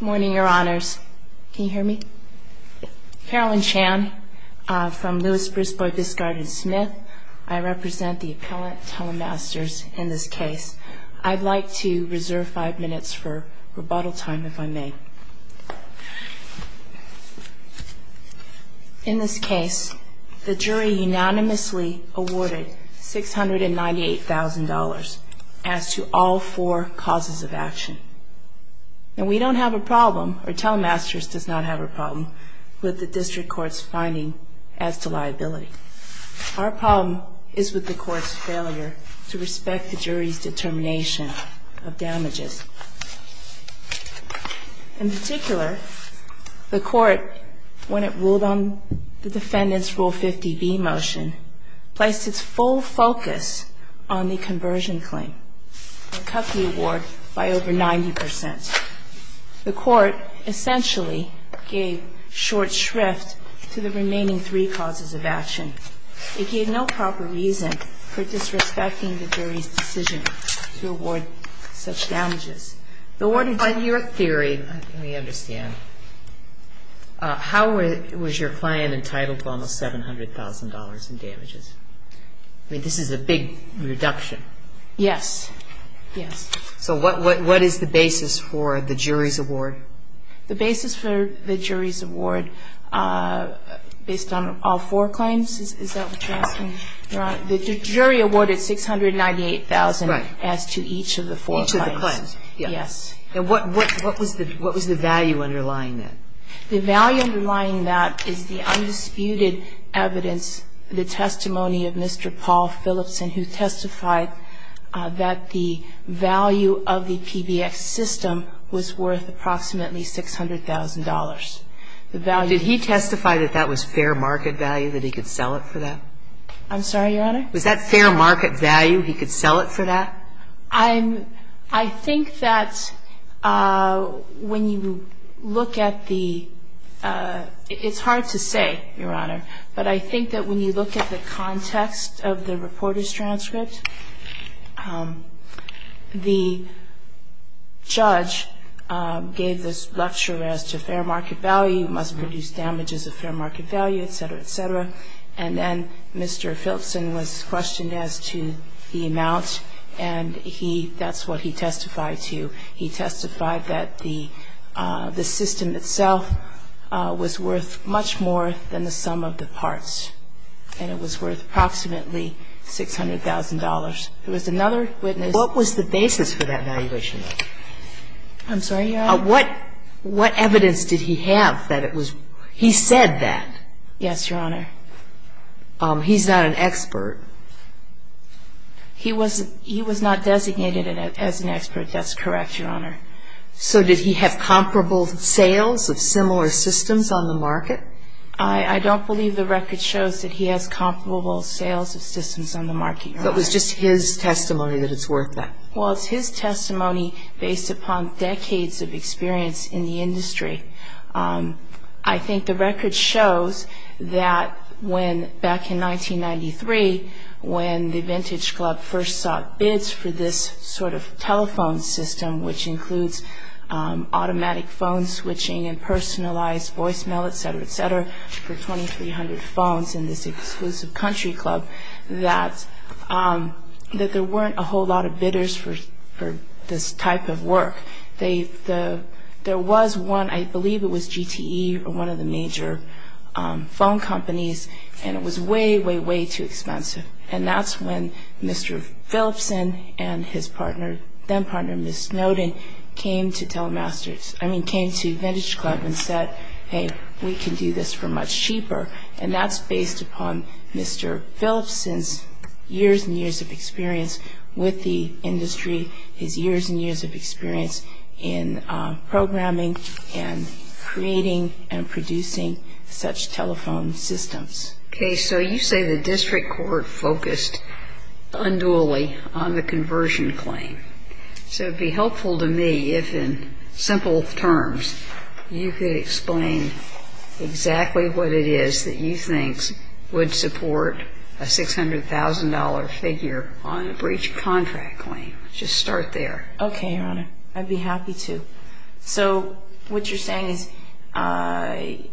Good morning, Your Honors. Can you hear me? Carolyn Chan from Louis, Brisbane, Biscard & Smith. I represent the Appellant Telemasters in this case. I'd like to reserve five minutes for rebuttal time, if I may. In this case, the jury unanimously awarded $698,000 as to all four causes of action. And we don't have a problem, or Telemasters does not have a problem, with the District Court's finding as to liability. Our problem is with the Court's failure to respect the jury's determination of damages. In particular, the Court, when it ruled on the Defendant's Rule 50b motion, placed its full focus on the conversion claim. And cut the award by over 90 percent. The Court essentially gave short shrift to the remaining three causes of action. It gave no proper reason for disrespecting the jury's decision to award such damages. But what is your theory, let me understand, how was your client entitled to almost $700,000 in damages? I mean, this is a big reduction. Yes. Yes. So what is the basis for the jury's award? The basis for the jury's award, based on all four claims, is that what you're asking? The jury awarded $698,000 as to each of the four claims. Each of the claims. Yes. And what was the value underlying that? The value underlying that is the undisputed evidence, the testimony of Mr. Paul Phillipson, who testified that the value of the PBX system was worth approximately $600,000. The value of the system was $600,000. Did he testify that that was fair market value, that he could sell it for that? I'm sorry, Your Honor? Was that fair market value, he could sell it for that? I think that when you look at the – it's hard to say, Your Honor, but I think that when you look at the context of the reporter's transcript, the judge gave this lecture as to fair market value, must produce damages of fair market value, et cetera, et cetera. And then Mr. Phillipson was questioned as to the amount, and he – that's what he testified to. He testified that the system itself was worth much more than the sum of the parts, and it was worth approximately $600,000. There was another witness. What was the basis for that valuation? I'm sorry, Your Honor? What evidence did he have that it was – he said that. Yes, Your Honor. He's not an expert. He was not designated as an expert. That's correct, Your Honor. So did he have comparable sales of similar systems on the market? I don't believe the record shows that he has comparable sales of systems on the market, Your Honor. But it was just his testimony that it's worth that. Well, it's his testimony based upon decades of experience in the industry. I think the record shows that when – back in 1993, when the Vintage Club first sought bids for this sort of telephone system, which includes automatic phone switching and personalized voicemail, et cetera, et cetera, for 2,300 phones in this exclusive country club, that there weren't a whole lot of bidders for this type of work. There was one – I believe it was GTE or one of the major phone companies, and it was way, way, way too expensive. And that's when Mr. Philipson and his partner – then-partner, Ms. Snowden, came to Vintage Club and said, hey, we can do this for much cheaper. And that's based upon Mr. Philipson's years and years of experience with the industry, his years and years of experience in programming and creating and producing such telephone systems. Okay. So you say the district court focused unduly on the conversion claim. So it would be helpful to me if, in simple terms, you could explain exactly what it is that you think would support a $600,000 figure on a breach contract claim. Just start there. Okay, Your Honor. I'd be happy to. So what you're saying is – Well,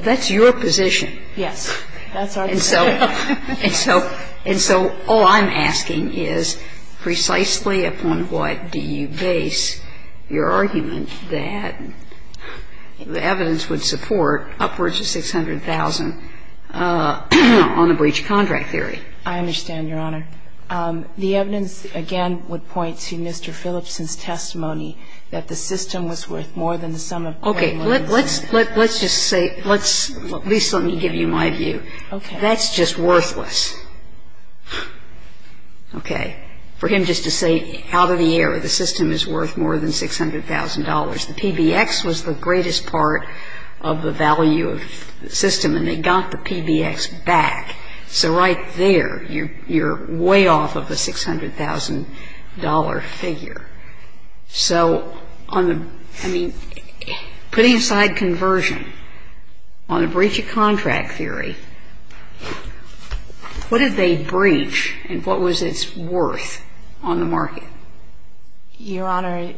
that's your position. Yes. That's our position. And so all I'm asking is precisely upon what do you base your argument that the evidence would support upwards of $600,000 on a breach contract theory? I understand, Your Honor. The evidence, again, would point to Mr. Philipson's testimony that the system was worth more than the sum of $1,100,000. Okay. Let's just say – let's – at least let me give you my view. Okay. That's just worthless. Okay. For him just to say out of the air, the system is worth more than $600,000. The PBX was the greatest part of the value of the system, and they got the PBX back. So right there, you're way off of a $600,000 figure. So on the – I mean, putting aside conversion, on the breach of contract theory, what did they breach and what was its worth on the market? Your Honor,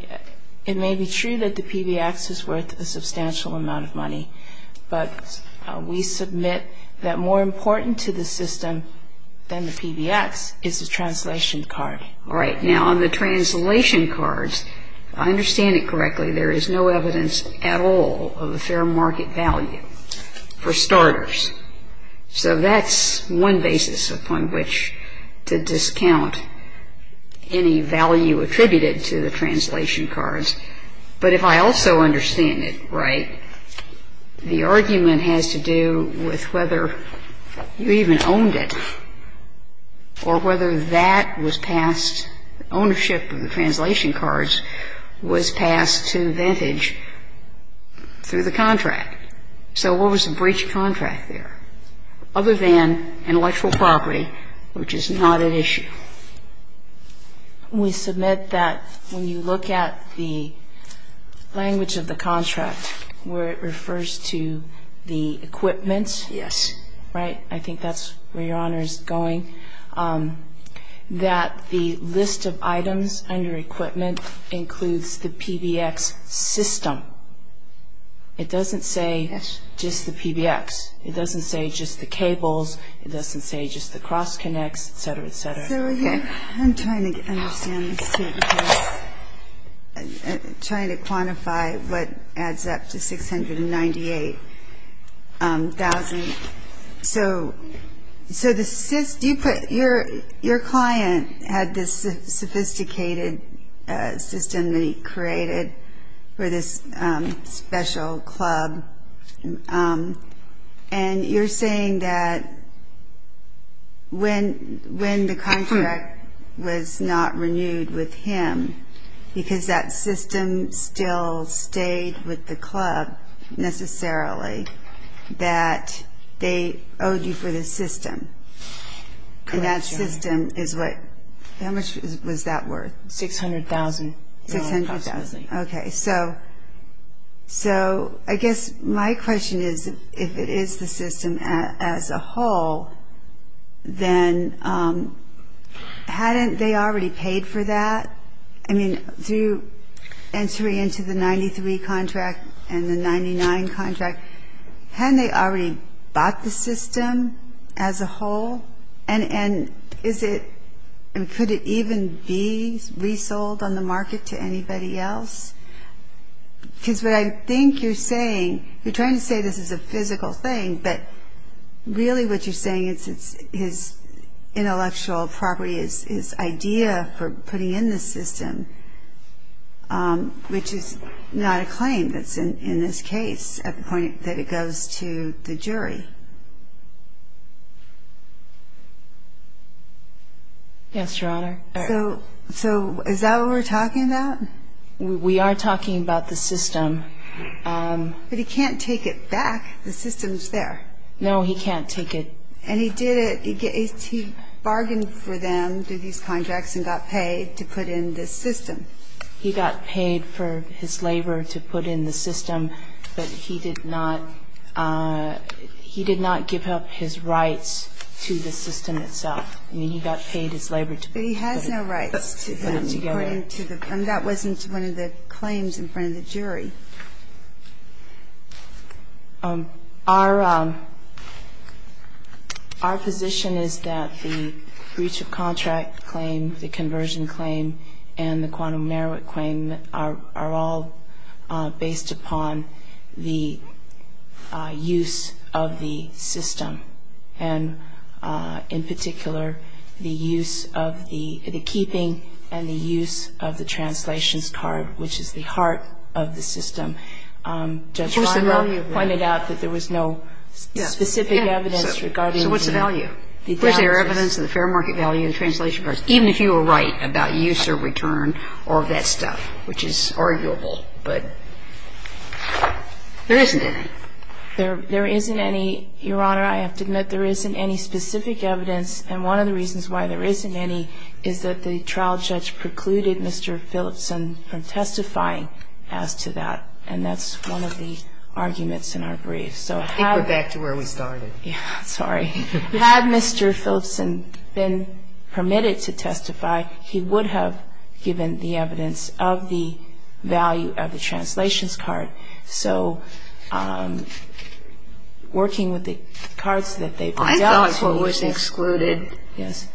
it may be true that the PBX is worth a substantial amount of money, but we submit that more important to the system than the PBX is the translation card. All right. Now, on the translation cards, if I understand it correctly, there is no evidence at all of a fair market value for starters. So that's one basis upon which to discount any value attributed to the translation cards. But if I also understand it right, the argument has to do with whether you even owned it or whether that was passed – ownership of the translation cards was passed to Vintage through the contract. So what was the breach of contract there other than intellectual property, which is not at issue? We submit that when you look at the language of the contract where it refers to the equipment. Yes. Right? I think that's where Your Honor is going. That the list of items under equipment includes the PBX system. It doesn't say just the PBX. It doesn't say just the cables. It doesn't say just the cross-connects, et cetera, et cetera. I'm trying to understand this too because I'm trying to quantify what adds up to $698,000. So your client had this sophisticated system that he created for this special club. And you're saying that when the contract was not renewed with him because that system still stayed with the club necessarily, that they owed you for the system. Correct, Your Honor. And that system is what – how much was that worth? $600,000 approximately. Okay. So I guess my question is if it is the system as a whole, then hadn't they already paid for that? I mean, through entering into the 93 contract and the 99 contract, hadn't they already bought the system as a whole? And could it even be resold on the market to anybody else? Because what I think you're saying – you're trying to say this is a physical thing, but really what you're saying is his intellectual property, his idea for putting in this system, which is not a claim that's in this case at the point that it goes to the jury. Yes, Your Honor. So is that what we're talking about? We are talking about the system. But he can't take it back. The system's there. No, he can't take it. And he did it. He bargained for them through these contracts and got paid to put in this system. He got paid for his labor to put in the system, but he did not – he did not give up his rights to the system itself. I mean, he got paid his labor to put it together. But he has no rights to them, according to the – and that wasn't one of the claims in front of the jury. Our position is that the breach of contract claim, the conversion claim, and the quantum merit claim are all based upon the use of the system. And in particular, the use of the – the keeping and the use of the translations card, which is the heart of the system. Judge Leiber pointed out that there was no specific evidence regarding the – So what's the value? Was there evidence of the fair market value of the translation cards? Even if you were right about use or return or that stuff, which is arguable. But there isn't any. There isn't any, Your Honor. I have to admit there isn't any specific evidence. And one of the reasons why there isn't any is that the trial judge precluded Mr. Philipson from testifying as to that. And that's one of the arguments in our brief. Take it back to where we started. Sorry. Had Mr. Philipson been permitted to testify, he would have given the evidence of the value of the translations card. So working with the cards that they've been dealt with. And the other one was excluded. Yes.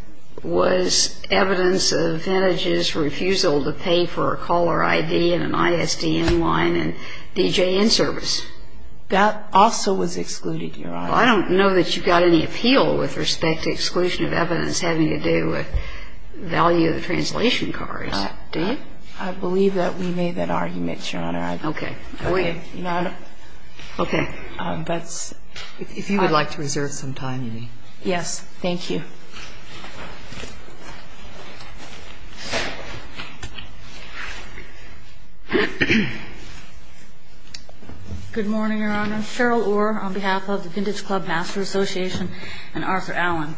Was evidence of Hennage's refusal to pay for a caller ID and an ISDN line and DJN service. That also was excluded, Your Honor. Well, I don't know that you got any appeal with respect to exclusion of evidence having to do with value of the translation cards. Do you? I believe that we made that argument, Your Honor. Okay. Okay. Okay. If you would like to reserve some time, you may. Yes. Thank you. Good morning, Your Honor. Cheryl Orr on behalf of the Vintage Club Master Association and Arthur Allen.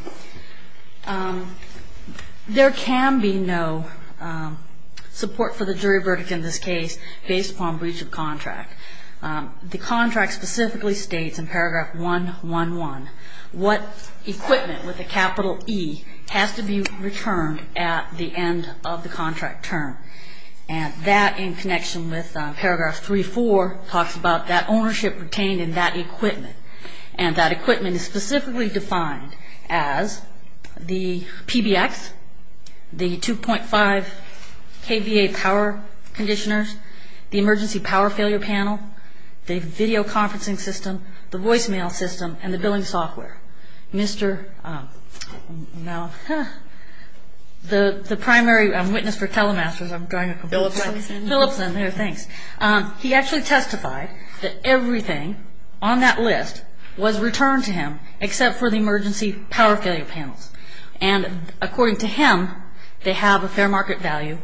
There can be no support for the jury verdict in this case based upon breach of contract. The contract specifically states in paragraph 111 what equipment with a capital E has to be returned at the end of the contract term. And that in connection with paragraph 34 talks about that ownership retained in that equipment. And that equipment is specifically defined as the PBX, the 2.5 KVA power conditioners, the emergency power failure panel, the video conferencing system, the voicemail system, and the billing software. Mr. Now, the primary witness for Telemasters, I'm trying to complete. Philipson. Philipson. There, thanks. He actually testified that everything on that list was returned to him except for the emergency power failure panels. And according to him, they have a fair market value,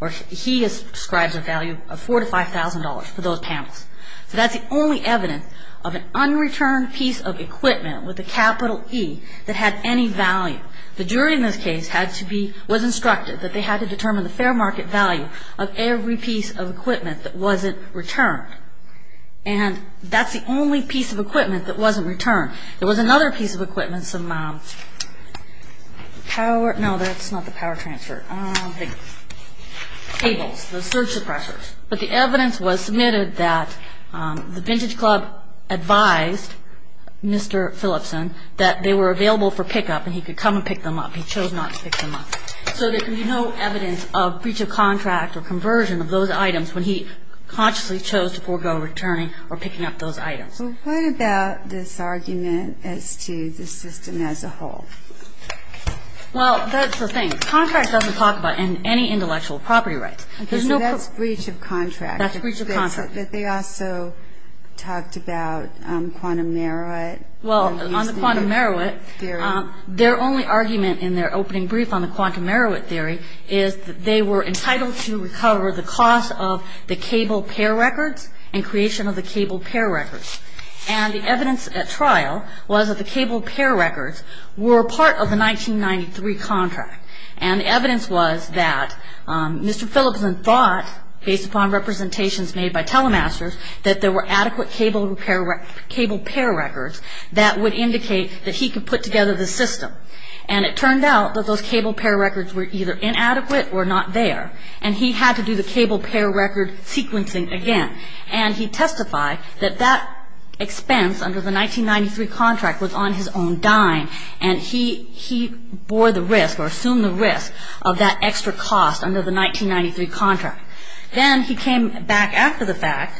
or he describes a value of $4,000 to $5,000 for those panels. So that's the only evidence of an unreturned piece of equipment with a capital E that had any value. The jury in this case had to be, was instructed that they had to determine the fair market value of every piece of equipment that wasn't returned. And that's the only piece of equipment that wasn't returned. There was another piece of equipment, some power, no, that's not the power transfer. The cables, the surge suppressors. But the evidence was submitted that the Vintage Club advised Mr. Philipson that they were available for pickup and he could come and pick them up. He chose not to pick them up. So there can be no evidence of breach of contract or conversion of those items when he consciously chose to forego returning or picking up those items. So what about this argument as to the system as a whole? Well, that's the thing. Contract doesn't talk about any intellectual property rights. Okay, so that's breach of contract. That's breach of contract. But they also talked about quantum Marowit. Well, on the quantum Marowit, their only argument in their opening brief on the quantum Marowit theory is that they were entitled to recover the cost of the cable pair records and creation of the cable pair records. And the evidence at trial was that the cable pair records were part of the 1993 contract. And the evidence was that Mr. Philipson thought, based upon representations made by telemasters, that there were adequate cable pair records that would indicate that he could put together the system. And it turned out that those cable pair records were either inadequate or not there. And he had to do the cable pair record sequencing again. And he testified that that expense under the 1993 contract was on his own dime. And he bore the risk or assumed the risk of that extra cost under the 1993 contract. Then he came back after the fact.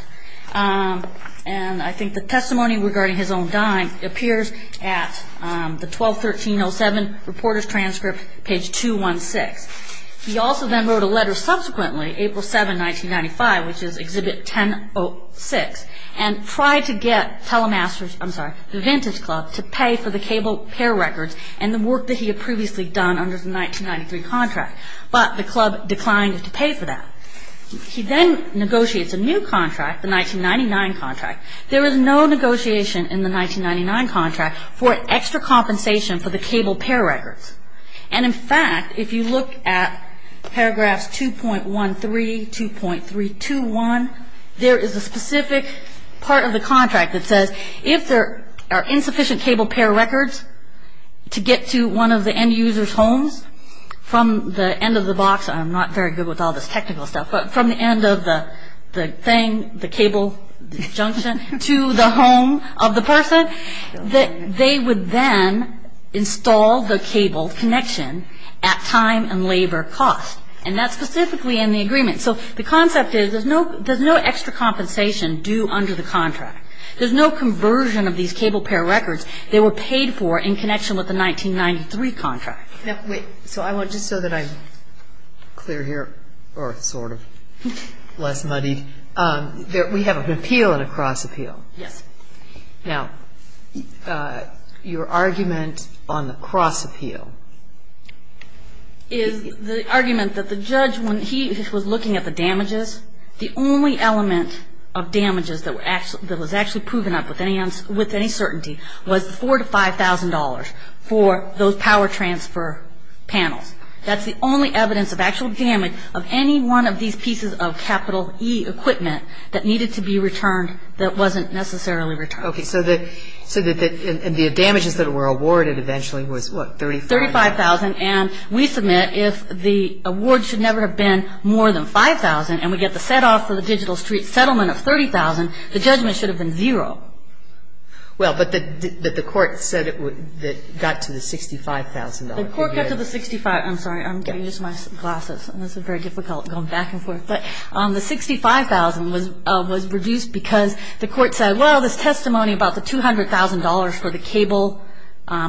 And I think the testimony regarding his own dime appears at the 12-1307 reporter's transcript, page 216. He also then wrote a letter subsequently, April 7, 1995, which is Exhibit 10-06, and tried to get the Vintage Club to pay for the cable pair records and the work that he had previously done under the 1993 contract. But the club declined to pay for that. He then negotiates a new contract, the 1999 contract. There is no negotiation in the 1999 contract for extra compensation for the cable pair records. And, in fact, if you look at paragraphs 2.13, 2.321, there is a specific part of the contract that says if there are insufficient cable pair records to get to one of the end user's homes from the end of the box – I'm not very good with all this technical stuff – but from the end of the thing, the cable junction to the home of the person, that they would then install the cable connection at time and labor cost. And that's specifically in the agreement. So the concept is there's no extra compensation due under the contract. There's no conversion of these cable pair records that were paid for in connection with the 1993 contract. Now, wait. Just so that I'm clear here, or sort of less muddied, we have an appeal and a cross-appeal. Yes. Now, your argument on the cross-appeal. The argument that the judge, when he was looking at the damages, the only element of damages that was actually proven up with any certainty was $4,000 to $5,000 for those power transfer panels. That's the only evidence of actual damage of any one of these pieces of capital E equipment that needed to be returned that wasn't necessarily returned. Okay. So the damages that were awarded eventually was, what, $35,000? $35,000. And we submit if the award should never have been more than $5,000 and we get the set-off for the Digital Street settlement of $30,000, the judgment should have been zero. Well, but the court said it got to the $65,000. The court got to the $65,000. I'm sorry. I'm getting used to my glasses, and this is very difficult going back and forth. But the $65,000 was reduced because the court said, well, this testimony about the $200,000 for the cable. I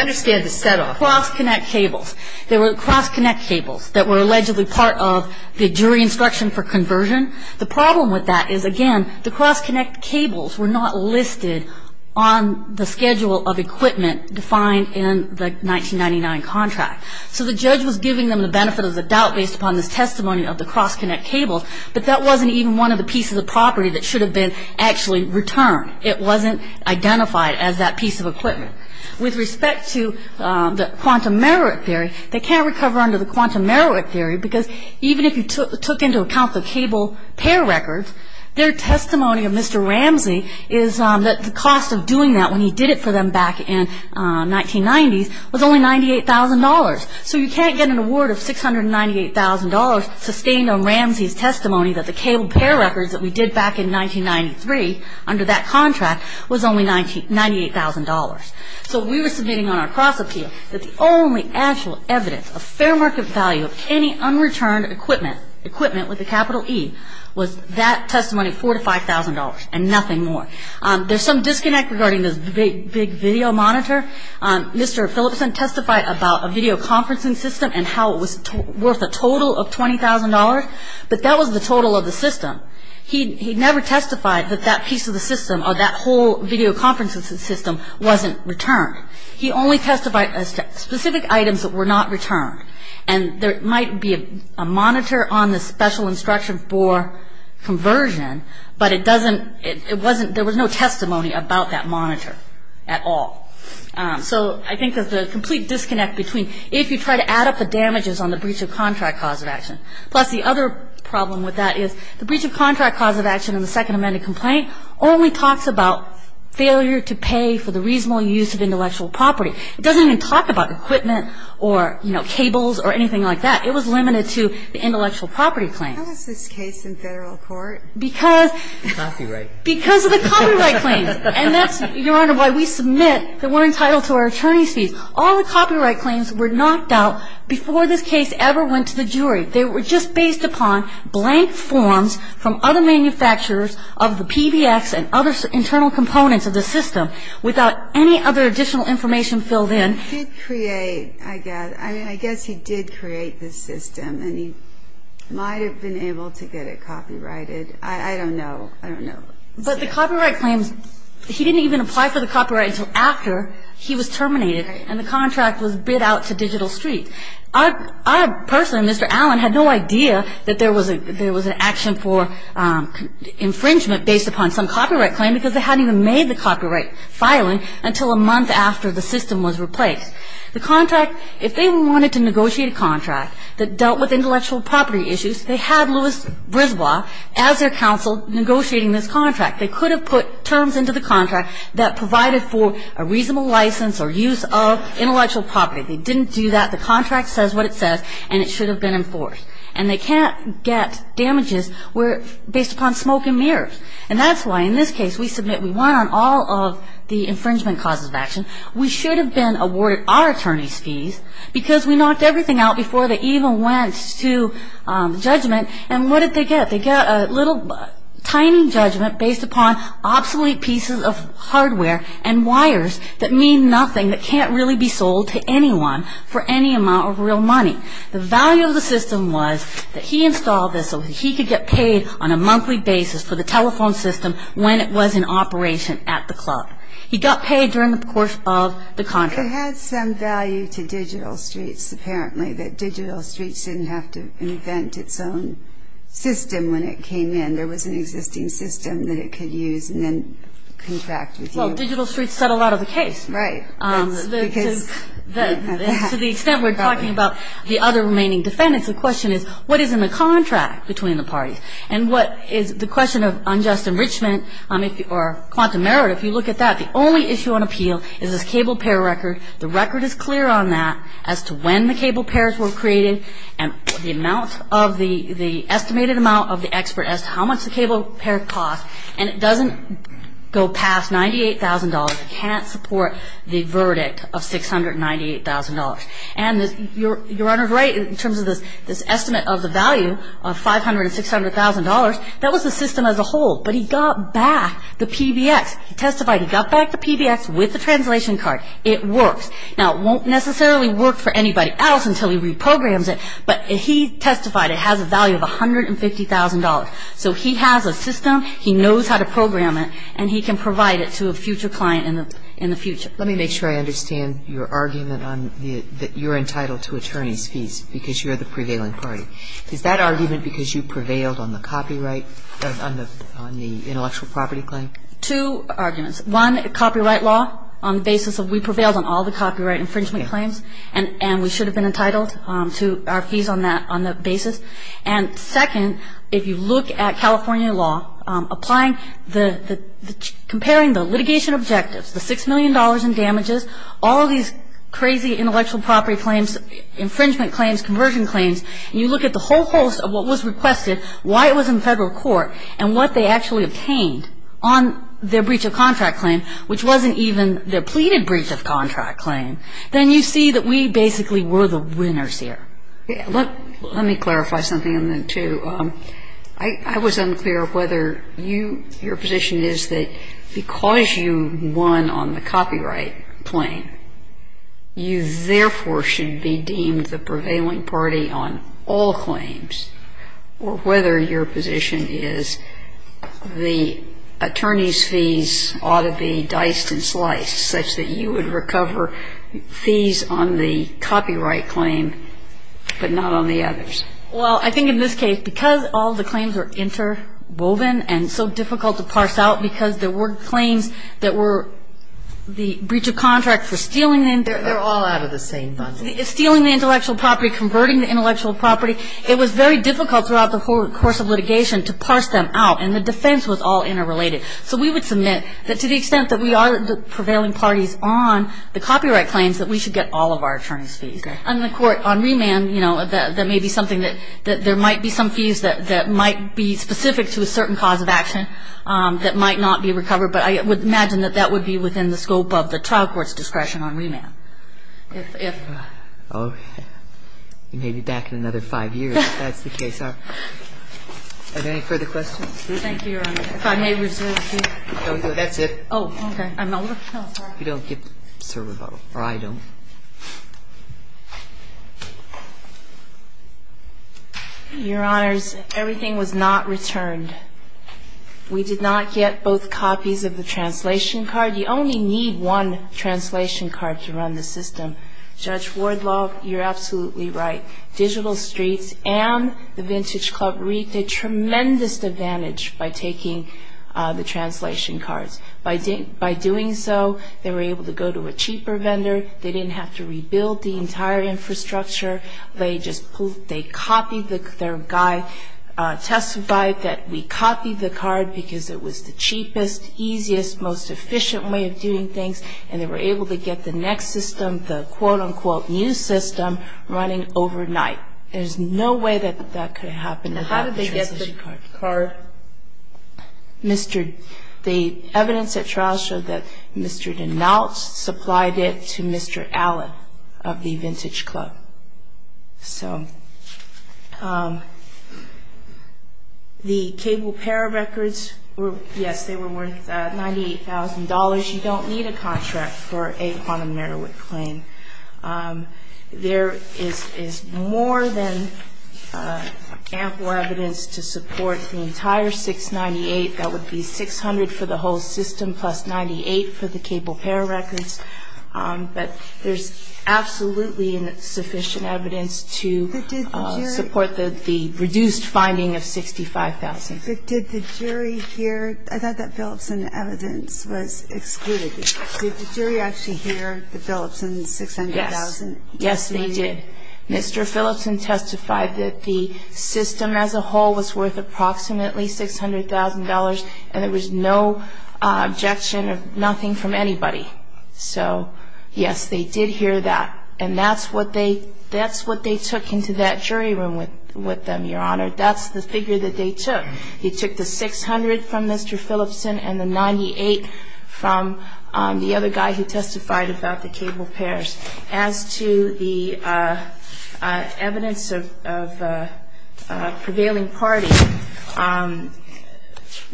understand the set-off. Cross-connect cables. They were cross-connect cables that were allegedly part of the jury instruction for conversion. The problem with that is, again, the cross-connect cables were not listed on the schedule of equipment defined in the 1999 contract. So the judge was giving them the benefit of the doubt based upon this testimony of the cross-connect cables, but that wasn't even one of the pieces of property that should have been actually returned. It wasn't identified as that piece of equipment. With respect to the quantum merit theory, they can't recover under the quantum merit theory because even if you took into account the cable pair records, their testimony of Mr. Ramsey is that the cost of doing that when he did it for them back in 1990s was only $98,000. So you can't get an award of $698,000 sustained on Ramsey's testimony that the cable pair records that we did back in 1993 under that contract was only $98,000. So we were submitting on our cross-appeal that the only actual evidence of fair market value of any unreturned equipment with a capital E was that testimony of $4,000 to $5,000 and nothing more. There's some disconnect regarding this big video monitor. Mr. Phillipson testified about a video conferencing system and how it was worth a total of $20,000, but that was the total of the system. He never testified that that piece of the system or that whole video conferencing system wasn't returned. He only testified as to specific items that were not returned, and there might be a monitor on the special instruction for conversion, but it doesn't – it wasn't – there was no testimony about that monitor at all. So I think there's a complete disconnect between if you try to add up the damages on the breach of contract cause of action. Plus, the other problem with that is the breach of contract cause of action in the Second Amendment complaint only talks about failure to pay for the reasonable use of intellectual property. It doesn't even talk about equipment or, you know, cables or anything like that. It was limited to the intellectual property claim. How is this case in Federal court? Because – Copyright. Because of the copyright claims. And that's, Your Honor, why we submit that we're entitled to our attorney's fees. All the copyright claims were knocked out before this case ever went to the jury. They were just based upon blank forms from other manufacturers of the PBX and other internal components of the system without any other additional information filled in. He did create, I guess – I mean, I guess he did create the system, and he might have been able to get it copyrighted. I don't know. I don't know. But the copyright claims, he didn't even apply for the copyright until after he was terminated and the contract was bid out to Digital Street. I personally, Mr. Allen, had no idea that there was an action for infringement based upon some copyright claim because they hadn't even made the copyright filing until a month after the system was replaced. The contract, if they wanted to negotiate a contract that dealt with intellectual property issues, they had Louis Brisbois as their counsel negotiating this contract. They could have put terms into the contract that provided for a reasonable license or use of intellectual property. They didn't do that. The contract says what it says, and it should have been enforced. And they can't get damages based upon smoke and mirrors. And that's why, in this case, we submit we want on all of the infringement causes of action. We should have been awarded our attorney's fees because we knocked everything out before they even went to judgment. And what did they get? They got a little tiny judgment based upon obsolete pieces of hardware and wires that mean nothing that can't really be sold to anyone for any amount of real money. The value of the system was that he installed this so that he could get paid on a monthly basis for the telephone system when it was in operation at the club. He got paid during the course of the contract. It had some value to Digital Streets, apparently, that Digital Streets didn't have to invent its own system when it came in. There was an existing system that it could use and then contract with you. Well, Digital Streets settled out of the case. Right. To the extent we're talking about the other remaining defendants, the question is what is in the contract between the parties? And what is the question of unjust enrichment or quantum merit, if you look at that, the only issue on appeal is this cable pair record. The record is clear on that as to when the cable pairs were created and the estimated amount of the expert as to how much the cable pair cost. And it doesn't go past $98,000. It can't support the verdict of $698,000. And Your Honor is right in terms of this estimate of the value of $500,000 and $600,000. That was the system as a whole. But he got back the PBX. He testified he got back the PBX with the translation card. It works. Now, it won't necessarily work for anybody else until he reprograms it, but he testified it has a value of $150,000. So he has a system, he knows how to program it, and he can provide it to a future client in the future. Let me make sure I understand your argument that you're entitled to attorney's fees because you're the prevailing party. Is that argument because you prevailed on the copyright, on the intellectual property claim? Two arguments. One, copyright law on the basis of we prevailed on all the copyright infringement claims and we should have been entitled to our fees on that basis. And second, if you look at California law, comparing the litigation objectives, the $6 million in damages, all of these crazy intellectual property claims, infringement claims, conversion claims, and you look at the whole host of what was requested, why it was in federal court, and what they actually obtained on their breach of contract claim, which wasn't even their pleaded breach of contract claim, then you see that we basically were the winners here. Let me clarify something on that, too. I was unclear whether your position is that because you won on the copyright claim, you therefore should be deemed the prevailing party on all claims, or whether your position is the attorney's fees ought to be diced and sliced such that you would recover fees on the copyright claim but not on the others. Well, I think in this case, because all the claims were interwoven and so difficult to parse out because there were claims that were the breach of contract for stealing the intellectual property. They're all out of the same bundle. Stealing the intellectual property, converting the intellectual property, it was very difficult throughout the whole course of litigation to parse them out, and the defense was all interrelated. So we would submit that to the extent that we are the prevailing parties on the copyright claims, that we should get all of our attorneys' fees. And the court on remand, you know, that may be something that there might be some fees that might be specific to a certain cause of action that might not be recovered, but I would imagine that that would be within the scope of the trial court's discretion on remand. Kennedy. If I may, Your Honor. If I may, Your Honor. If I may. I apologize. You may be back in another five years, if that's the case. Are there any further questions? Thank you, Your Honor. If I may,�를 No. No, that's it. Oh, okay. If you don't get the server bottle, or I don't. Your Honors, everything was not returned. We did not get both copies of the translation card. You only need one translation card to run the system. Judge Wardlaw, you're absolutely right. Digital Streets and the Vintage Club reaped a tremendous advantage by taking the translation cards. By doing so, they were able to go to a cheaper vendor. They didn't have to rebuild the entire infrastructure. They just copied their guide, testified that we copied the card because it was the cheapest, easiest, most efficient way of doing things, and they were able to get the next system, the quote-unquote new system, running overnight. There's no way that that could happen without the translation card. Now, how did they get the card? The evidence at trial showed that Mr. Denault supplied it to Mr. Allen of the Vintage Club. So, the cable pair records, yes, they were worth $98,000. You don't need a contract for a quantum merowick claim. There is more than ample evidence to support the entire $698,000. That would be $600,000 for the whole system plus $98,000 for the cable pair records. But there's absolutely sufficient evidence to support the reduced finding of $65,000. But did the jury hear? I thought that Phillipson evidence was excluded. Did the jury actually hear the Phillipson $600,000? Yes. Yes, they did. Mr. Phillipson testified that the system as a whole was worth approximately $600,000, and there was no objection or nothing from anybody. So, yes, they did hear that. And that's what they took into that jury room with them, Your Honor. That's the figure that they took. He took the $600,000 from Mr. Phillipson and the $98,000 from the other guy who testified about the cable pairs. As to the evidence of a prevailing party,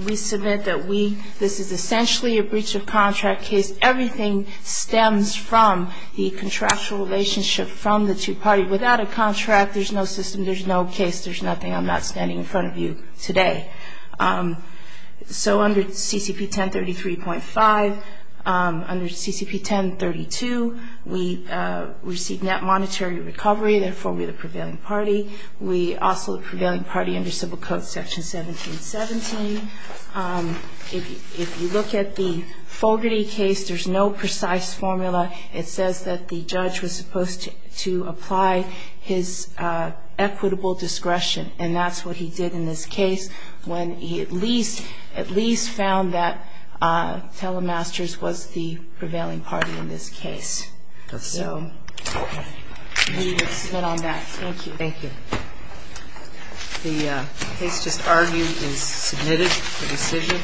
we submit that this is essentially a breach of contract case. Everything stems from the contractual relationship from the two parties. Without a contract, there's no system, there's no case, there's nothing. I'm not standing in front of you today. So under CCP 1033.5, under CCP 1032, we received net monetary recovery, therefore we're the prevailing party. We also are the prevailing party under Civil Code Section 1717. If you look at the Fogarty case, there's no precise formula. It says that the judge was supposed to apply his equitable discretion, and that's what he did in this case when he at least found that Telemasters was the prevailing party in this case. So we would submit on that. Thank you. Thank you. The case just argued is submitted for decision.